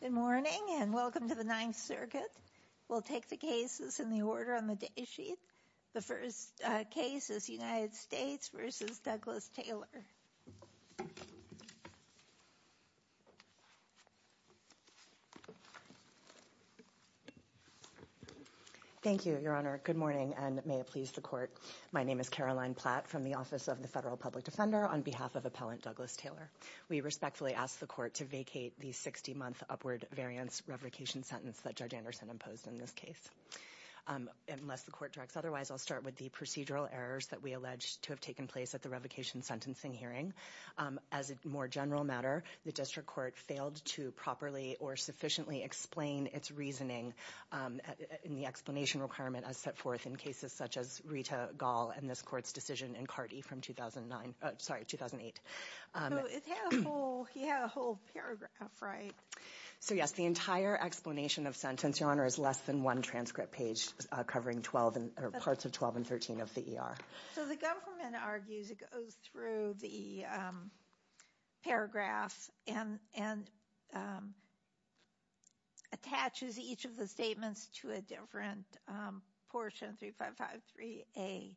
Good morning and welcome to the Ninth Circuit. We'll take the cases in the order on the day sheet. The first case is United States v. Douglas Taylor. Thank you, Your Honor. Good morning and may it please the Court. My name is Caroline Platt from the Office of the Federal Public Defender. On behalf of Appellant Douglas Taylor, we respectfully ask the Court to vacate the 60-month upward variance revocation sentence that Judge Anderson imposed in this case. Unless the Court directs otherwise, I'll start with the procedural errors that we allege to have taken place at the revocation sentencing hearing. As a more general matter, the District Court failed to properly or sufficiently explain its reasoning in the explanation requirement as set forth in cases such as Rita Gall and this Court's decision in Carty from 2009, sorry, 2008. So it has a whole paragraph, right? So yes, the entire explanation of sentence, Your Honor, is less than one transcript page covering parts of 12 and 13 of the ER. So the government argues it goes through the paragraph and attaches each of the statements to a different portion, 3553A.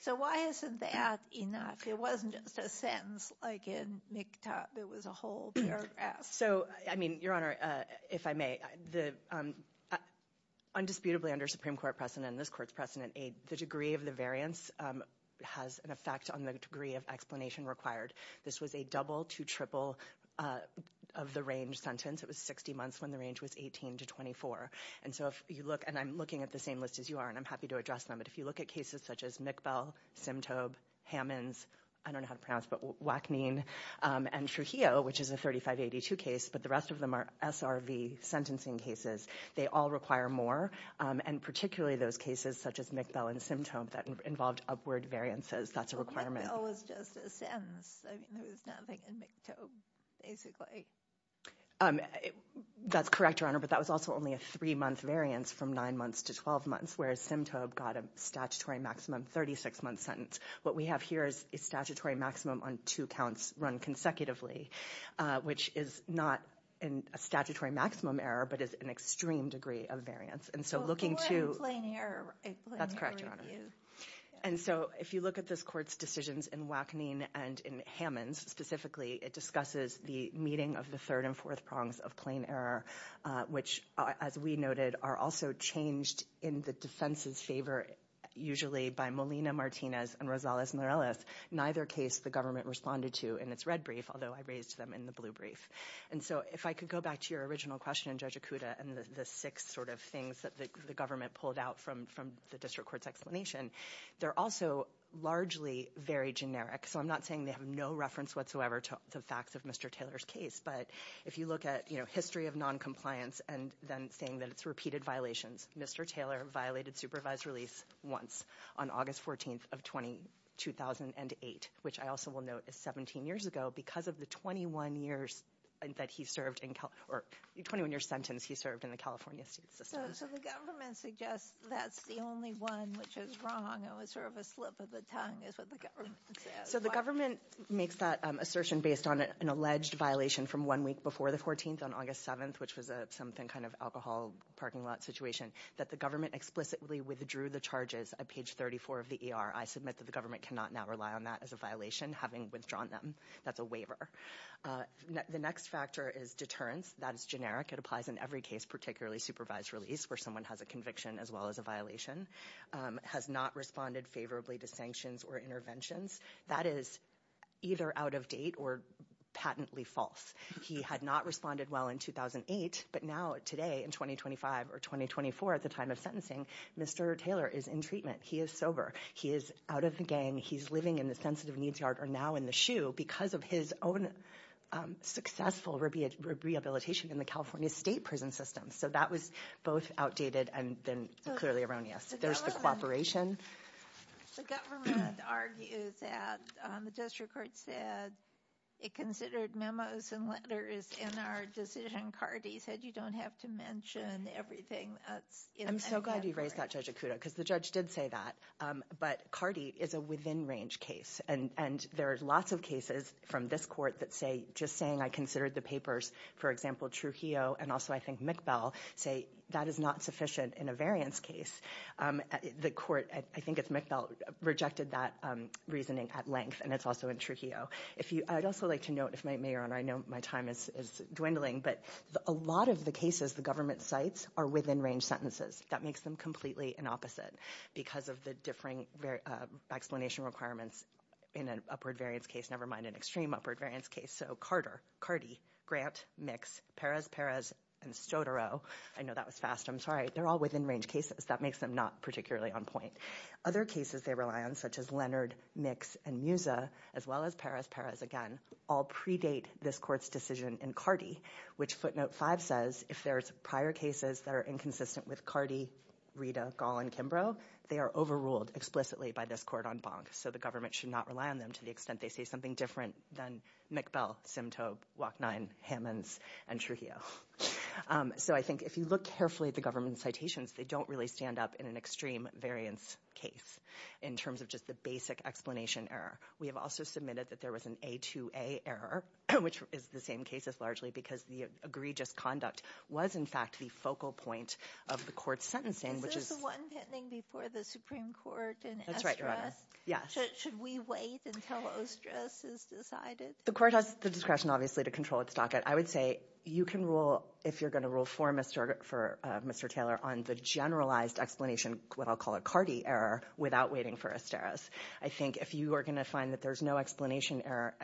So why isn't that enough? It wasn't just a sentence like in MGTAAB, it was a whole paragraph. So I mean, Your Honor, if I may, undisputably under Supreme Court precedent and this Court's precedent, the degree of the variance has an effect on the degree of explanation required. This was a double to triple of the range sentence. It was 60 months when the range was 18 to 24. And so if you look, and I'm looking at the same list as you are, and I'm happy to address them, but if you look at cases such as McBell, Simtobe, Hammons, I don't know how to pronounce it, but Wachneen, and Trujillo, which is a 3582 case, but the rest of them are SRV sentencing cases, they all require more, and particularly those cases such as McBell and Simtobe that involved upward variances. That's a requirement. But McBell was just a sentence. I mean, there was nothing in McTobe, basically. That's correct, Your Honor, but that was also only a three-month variance from nine months to 12 months, whereas Simtobe got a statutory maximum 36-month sentence. What we have here is a statutory maximum on two counts run consecutively, which is not a statutory maximum error, but it's an extreme degree of variance. And so looking to... A plain error. A plain error review. That's correct, Your Honor. And so if you look at this Court's decisions in Wachneen and in Hammons, specifically, it discusses the meeting of the third and fourth prongs of plain error, which, as we noted, are also changed in the defense's favor, usually by Molina-Martinez and Rosales-Morales. Neither case the government responded to in its red brief, although I raised them in the blue brief. And so if I could go back to your original question, Judge Acuda, and the six sort of things that the government pulled out from the District Court's explanation, they're also largely very generic. So I'm not saying they have no reference whatsoever to the facts of Mr. Taylor's case, but if you look at history of noncompliance and then saying that it's repeated violations, Mr. Taylor violated supervised release once on August 14th of 2008, which I also will note is 17 years ago, because of the 21-year sentence he served in the California State System. So the government suggests that's the only one which is wrong, and it was sort of a slip of the tongue is what the government says. So the government makes that assertion based on an alleged violation from one week before the 14th on August 7th, which was a something kind of alcohol parking lot situation, that the government explicitly withdrew the charges at page 34 of the ER. I submit that the government cannot now rely on that as a violation, having withdrawn them. That's a waiver. The next factor is deterrence. That is generic. It applies in every case, particularly supervised release, where someone has a conviction as well as a violation. Has not responded favorably to sanctions or interventions. That is either out of date or patently false. He had not responded well in 2008, but now today in 2025 or 2024 at the time of sentencing, Mr. Taylor is in treatment. He is sober. He is out of the gang. He's living in the sensitive needs yard or now in the SHU because of his own successful rehabilitation in the California State Prison System. So that was both outdated and then clearly erroneous. There's the cooperation. The government argues that, the district court said it considered memos and letters in our decision. Cardi said you don't have to mention everything that's in that memo. I'm so glad you raised that, Judge Acuda, because the judge did say that. But Cardi is a within range case. And there are lots of cases from this court that say, just saying I considered the papers, for example, Trujillo, and also I think McBell, say that is not sufficient in a variance case. The court, I think it's McBell, rejected that reasoning at length, and it's also in Trujillo. I'd also like to note, if my mayor and I know my time is dwindling, but a lot of the cases the government cites are within range sentences. That makes them completely an opposite because of the differing explanation requirements in an upward variance case, never mind an extreme upward variance case. So Carter, Cardi, Grant, Mix, Perez-Perez, and Stodaro, I know that was fast, I'm sorry, they're all within range cases. That makes them not particularly on point. Other cases they rely on, such as Leonard, Mix, and Musa, as well as Perez-Perez again, all predate this court's decision in Cardi, which footnote five says, if there's prior cases that are inconsistent with Cardi, Rita, Gall, and Kimbrough, they are overruled explicitly by this court on Bonk. So the government should not rely on them to the extent they say something different than McBell, Simtoe, Wachnine, Hammonds, and Trujillo. So I think if you look carefully at the government citations, they don't really stand up in an extreme variance case in terms of just the basic explanation error. We have also submitted that there was an A2A error, which is the same case as largely because the egregious conduct was, in fact, the focal point of the court's sentencing, which is- Is this the one pending before the Supreme Court in Ostres? That's right, Your Honor. Yes. So should we wait until Ostres is decided? The court has the discretion, obviously, to control its docket. I would say you can rule, if you're going to rule for Mr. Taylor, on the generalized explanation, what I'll call a Cardi error, without waiting for Osteres. I think if you are going to find that there's no explanation error,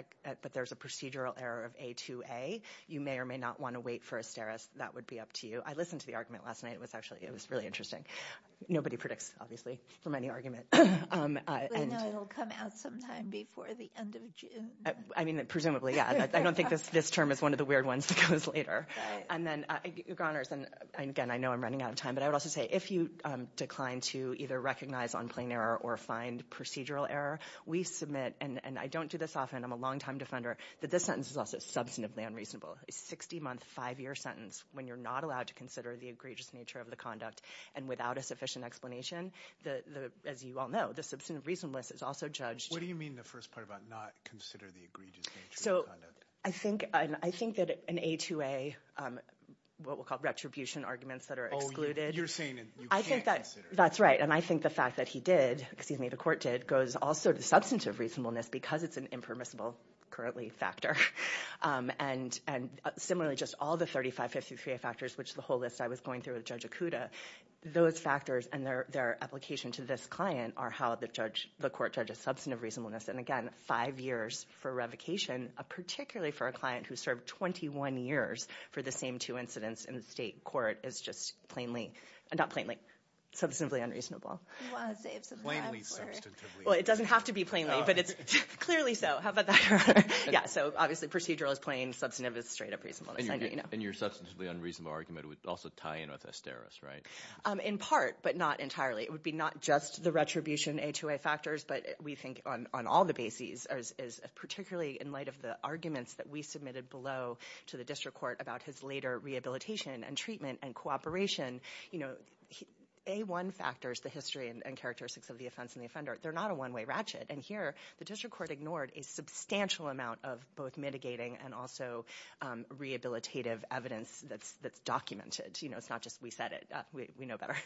but there's a procedural error of A2A, you may or may not want to wait for Osteres. That would be up to you. I listened to the argument last night. It was actually, it was really interesting. Nobody predicts, obviously, from any argument. I know it'll come out sometime before the end of June. I mean, presumably, yeah. I don't think this term is one of the weird ones that goes later. And then, Your Honors, and again, I know I'm running out of time, but I would also say, if you decline to either recognize on plain error or find procedural error, we submit, and I don't do this often, I'm a longtime defender, that this sentence is also substantively unreasonable. A 60-month, five-year sentence, when you're not allowed to consider the egregious nature of the conduct and without a sufficient explanation, as you all know, the substantive reasonableness is also judged. What do you mean in the first part about not consider the egregious nature of the conduct? I think that an A2A, what we'll call retribution arguments that are excluded. Oh, you're saying you can't consider. That's right. And I think the fact that he did, excuse me, the court did, goes also to substantive reasonableness because it's an impermissible, currently, factor. And similarly, just all the 35, 53A factors, which the whole list I was going through with Jakuta, those factors and their application to this client are how the court judges substantive reasonableness. And again, five years for revocation, particularly for a client who served 21 years for the same two incidents in the state court, is just plainly, not plainly, substantively unreasonable. He was. Plainly substantively unreasonable. Well, it doesn't have to be plainly, but it's clearly so. How about that? Yeah, so obviously, procedural is plain, substantive is straight-up reasonableness. And your substantively unreasonable argument would also tie in with Asteris, right? In part, but not entirely. It would be not just the retribution A2A factors, but we think on all the bases, particularly in light of the arguments that we submitted below to the district court about his later rehabilitation and treatment and cooperation, A1 factors, the history and characteristics of the offense and the offender, they're not a one-way ratchet. And here, the district court ignored a substantial amount of both mitigating and also rehabilitative evidence that's documented. You know, it's not just we said it, we know better.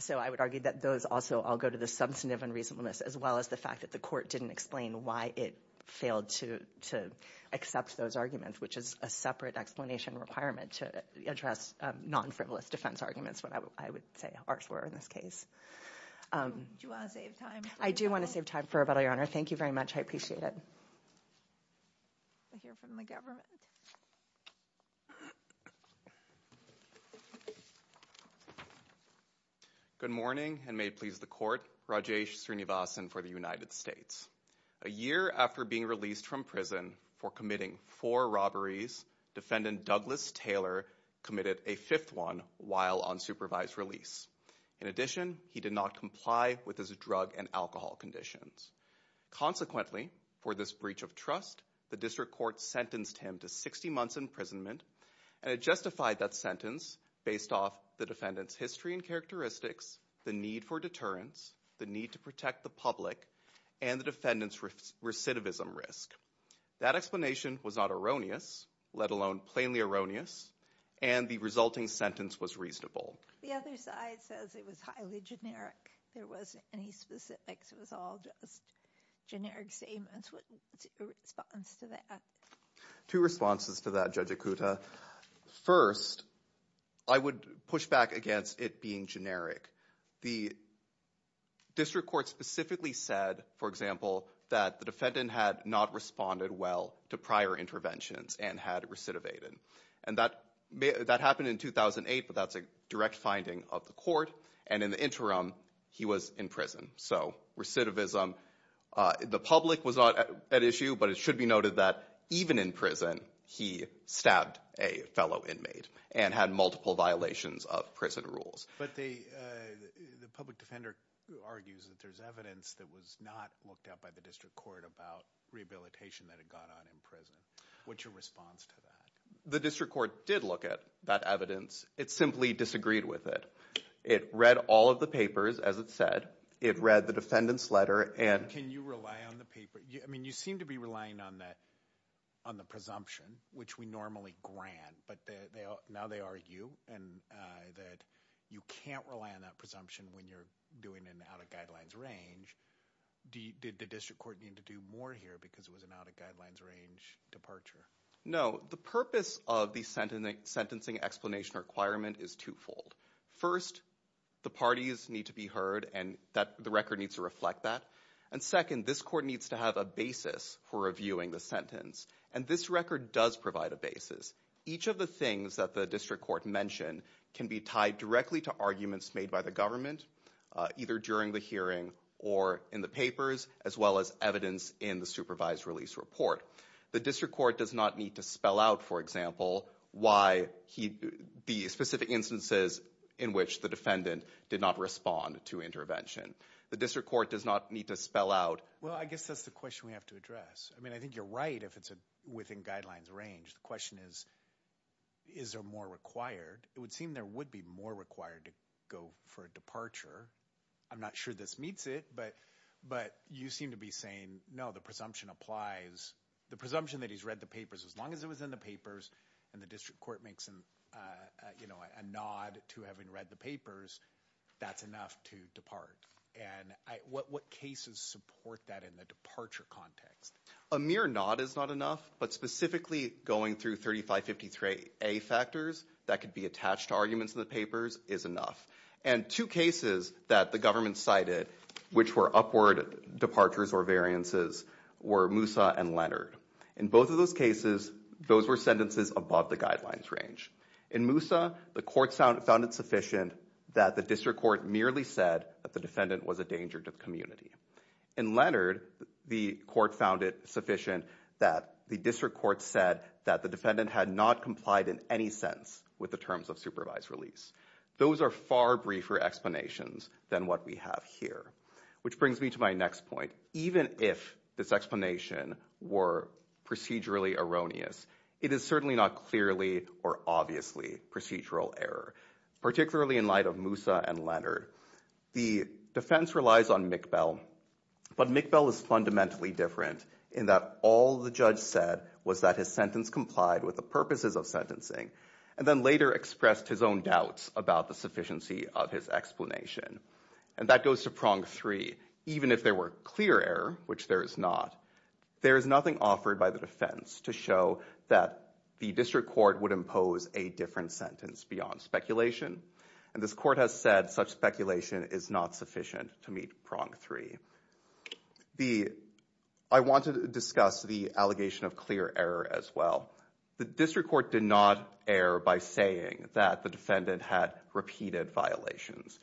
So I would argue that those also all go to the substantive unreasonableness, as well as the fact that the court didn't explain why it failed to accept those arguments, which is a separate explanation requirement to address non-frivolous defense arguments, what I would say ours were in this case. Do you want to save time? I do want to save time for rebuttal, your honor. Thank you very much. I appreciate it. I hear from the government. Good morning and may it please the court, Rajesh Srinivasan for the United States. A year after being released from prison for committing four robberies, defendant Douglas Taylor committed a fifth one while on supervised release. In addition, he did not comply with his drug and alcohol conditions. Consequently, for this breach of trust, the district court sentenced him to 60 months imprisonment and it justified that sentence based off the defendant's history and characteristics, the need for deterrence, the need to protect the public, and the defendant's recidivism risk. That explanation was not erroneous, let alone plainly erroneous, and the resulting sentence was reasonable. The other side says it was highly generic, there wasn't any specifics, it was all just generic statements. What's your response to that? Two responses to that, Judge Ikuta. First, I would push back against it being generic. The district court specifically said, for example, that the defendant had not responded well to prior interventions and had recidivated. And that happened in 2008, but that's a direct finding of the court. And in the interim, he was in prison. So recidivism, the public was not at issue, but it should be noted that even in prison, he stabbed a fellow inmate and had multiple violations of prison rules. But the public defender argues that there's evidence that was not looked at by the district court about rehabilitation that had gone on in prison. What's your response to that? The district court did look at that evidence. It simply disagreed with it. It read all of the papers, as it said. It read the defendant's letter and... Can you rely on the paper? I mean, you seem to be relying on the presumption, which we normally grant, but now they argue that you can't rely on that presumption when you're doing an out-of-guidelines range. Did the district court need to do more here because it was an out-of-guidelines range departure? No. The purpose of the sentencing explanation requirement is twofold. First, the parties need to be heard, and the record needs to reflect that. And second, this court needs to have a basis for reviewing the sentence. And this record does provide a basis. Each of the things that the district court mentioned can be tied directly to arguments made by the government, either during the hearing or in the papers, as well as evidence in the supervised release report. The district court does not need to spell out, for example, the specific instances in which the defendant did not respond to intervention. The district court does not need to spell out... Well, I guess that's the question we have to address. I mean, I think you're right if it's within guidelines range. The question is, is there more required? It would seem there would be more required to go for a departure. I'm not sure this meets it, but you seem to be saying, no, the presumption applies. The presumption that he's read the papers, as long as it was in the papers and the district court makes a nod to having read the papers, that's enough to depart. And what cases support that in the departure context? A mere nod is not enough. But specifically going through 3553A factors that could be attached to arguments in the papers is enough. And two cases that the government cited, which were upward departures or variances, were Moussa and Leonard. In both of those cases, those were sentences above the guidelines range. In Moussa, the court found it sufficient that the district court merely said that the defendant was a danger to the community. In Leonard, the court found it sufficient that the district court said that the defendant had not complied in any sense with the terms of supervised release. Those are far briefer explanations than what we have here, which brings me to my next point. Even if this explanation were procedurally erroneous, it is certainly not clearly or obviously procedural error, particularly in light of Moussa and Leonard. The defense relies on McBell. But McBell is fundamentally different in that all the judge said was that his sentence complied with the purposes of sentencing, and then later expressed his own doubts about the sufficiency of his explanation. And that goes to prong three. Even if there were clear error, which there is not, there is nothing offered by the defense to show that the district court would impose a different sentence beyond speculation. And this court has said such speculation is not sufficient to meet prong three. I want to discuss the allegation of clear error as well. The district court did not err by saying that the defendant had repeated violations.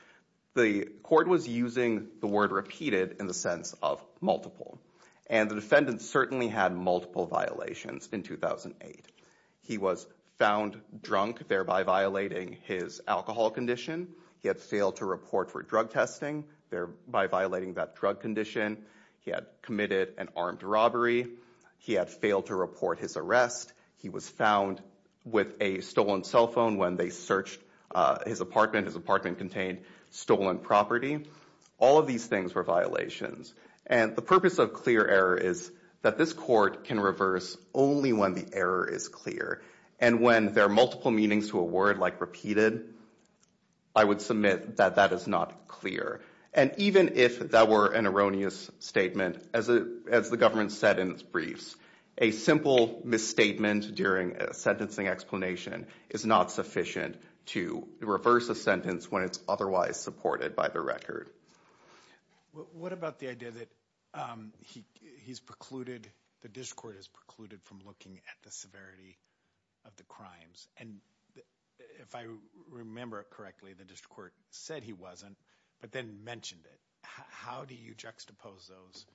The court was using the word repeated in the sense of multiple. And the defendant certainly had multiple violations in 2008. He was found drunk, thereby violating his alcohol condition. He had failed to report for drug testing, thereby violating that drug condition. He had committed an armed robbery. He had failed to report his arrest. He was found with a stolen cell phone when they searched his apartment. His apartment contained stolen property. All of these things were violations. And the purpose of clear error is that this court can reverse only when the error is clear. And when there are multiple meanings to a word like repeated, I would submit that that is not clear. And even if that were an erroneous statement, as the government said in its briefs, a simple misstatement during a sentencing explanation is not sufficient to reverse a sentence when it's otherwise supported by the record. What about the idea that he's precluded, the district court has precluded from looking at the severity of the crimes? And if I remember correctly, the district court said he wasn't, but then mentioned it. How do you juxtapose those?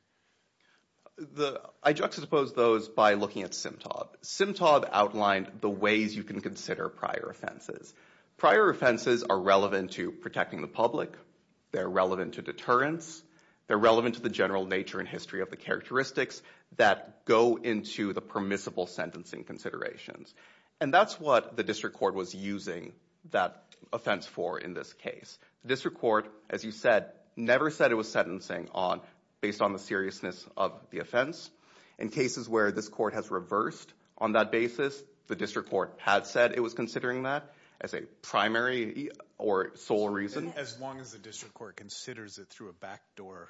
I juxtapose those by looking at Simtob. Simtob outlined the ways you can consider prior offenses. Prior offenses are relevant to protecting the public. They're relevant to deterrence. They're relevant to the general nature and history of the characteristics that go into the permissible sentencing considerations. And that's what the district court was using that offense for in this case. District court, as you said, never said it was sentencing based on the seriousness of the offense. In cases where this court has reversed on that basis, the district court had said it was considering that as a primary or sole reason. As long as the district court considers it through a backdoor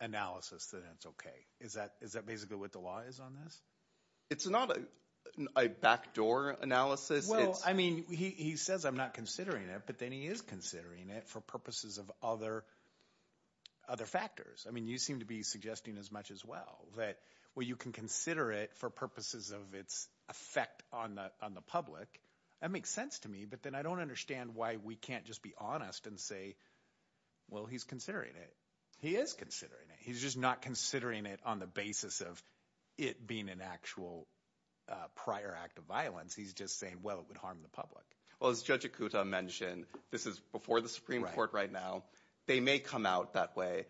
analysis, then it's okay. Is that basically what the law is on this? It's not a backdoor analysis. Well, I mean, he says I'm not considering it, but then he is considering it for purposes of other factors. I mean, you seem to be suggesting as much as well, that where you can consider it for purposes of its effect on the public, that makes sense to me. But then I don't understand why we can't just be honest and say, well, he's considering it. He is considering it. He's just not considering it on the basis of it being an actual prior act of violence. He's just saying, well, it would harm the public. Well, as Judge Ikuta mentioned, this is before the Supreme Court right now. They may come out that way.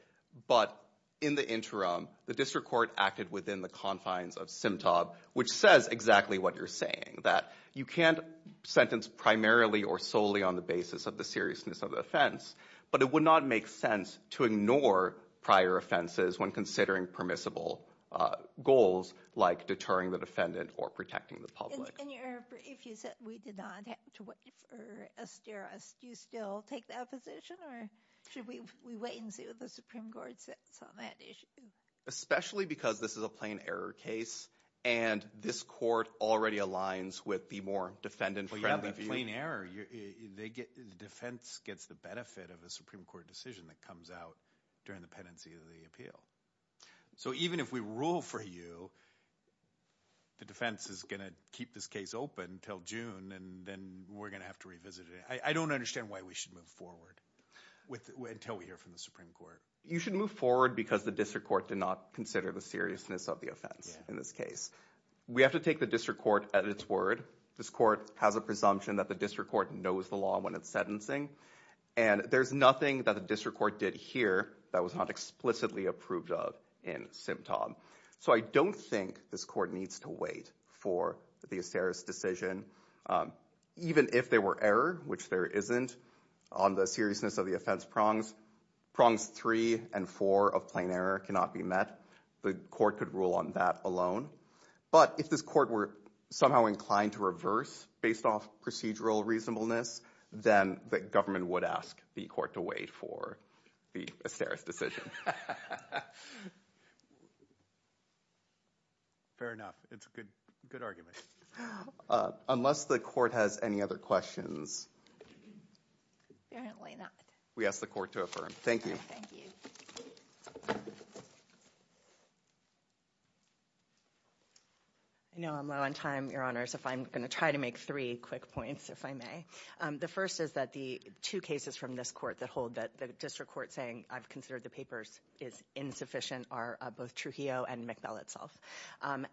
But in the interim, the district court acted within the confines of SIMTAB, which says exactly what you're saying, that you can't sentence primarily or solely on the basis of the seriousness of the offense, but it would not make sense to ignore prior offenses when considering permissible goals like deterring the defendant or protecting the public. And if you said we did not have to wait for a stirrups, do you still take that position or should we wait and see what the Supreme Court says on that issue? Especially because this is a plain error case and this court already aligns with the more defendant friendly view. Plain error, the defense gets the benefit of a Supreme Court decision that comes out during the pendency of the appeal. So even if we rule for you, the defense is going to keep this case open until June and then we're going to have to revisit it. I don't understand why we should move forward until we hear from the Supreme Court. You should move forward because the district court did not consider the seriousness of the offense in this case. We have to take the district court at its word. This court has a presumption that the district court knows the law when it's sentencing. And there's nothing that the district court did here that was not explicitly approved of in SIMTAB. So I don't think this court needs to wait for the Aceris decision. Even if there were error, which there isn't, on the seriousness of the offense prongs. Prongs three and four of plain error cannot be met. The court could rule on that alone. But if this court were somehow inclined to reverse based off procedural reasonableness, then the government would ask the court to wait for the Aceris decision. Fair enough. It's a good argument. Unless the court has any other questions. Apparently not. We ask the court to affirm. Thank you. Thank you. I know I'm low on time, your honors, if I'm going to try to make three quick points, if I may. The first is that the two cases from this court that hold that the district court saying I've considered the papers is insufficient are both Trujillo and McBell itself.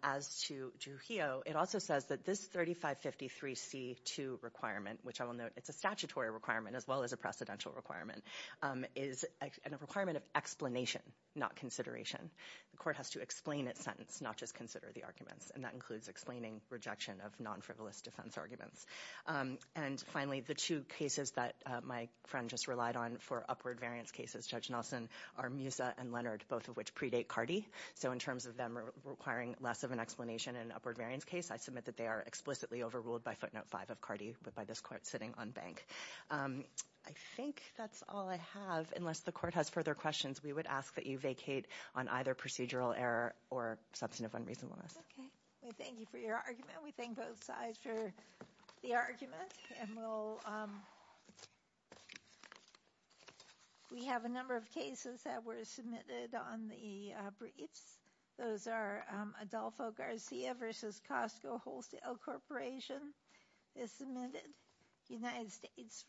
As to Trujillo, it also says that this 3553C2 requirement, which I will note it's a statutory requirement as well as a precedential requirement, is a requirement of explanation, not consideration. The court has to explain its sentence, not just consider the arguments. And that includes explaining rejection of non-frivolous defense arguments. And finally, the two cases that my friend just relied on for upward variance cases, Judge Nelson, are Musa and Leonard, both of which predate Cardi. So in terms of them requiring less of an explanation in upward variance case, I submit that they are explicitly overruled by footnote five of Cardi, but by this court sitting on bank. I think that's all I have. Unless the court has further questions, we would ask that you vacate on either procedural error or substantive unreasonableness. Okay, we thank you for your argument. We thank both sides for the argument. And we have a number of cases that were submitted on the briefs. Those are Adolfo Garcia versus Costco Wholesale Corporation is submitted. United States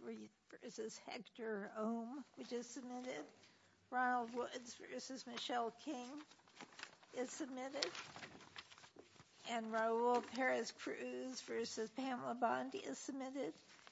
versus Hector Ohm, which is submitted. Ronald Woods versus Michelle King is submitted. And Raul Perez Cruz versus Pamela Bondi is submitted.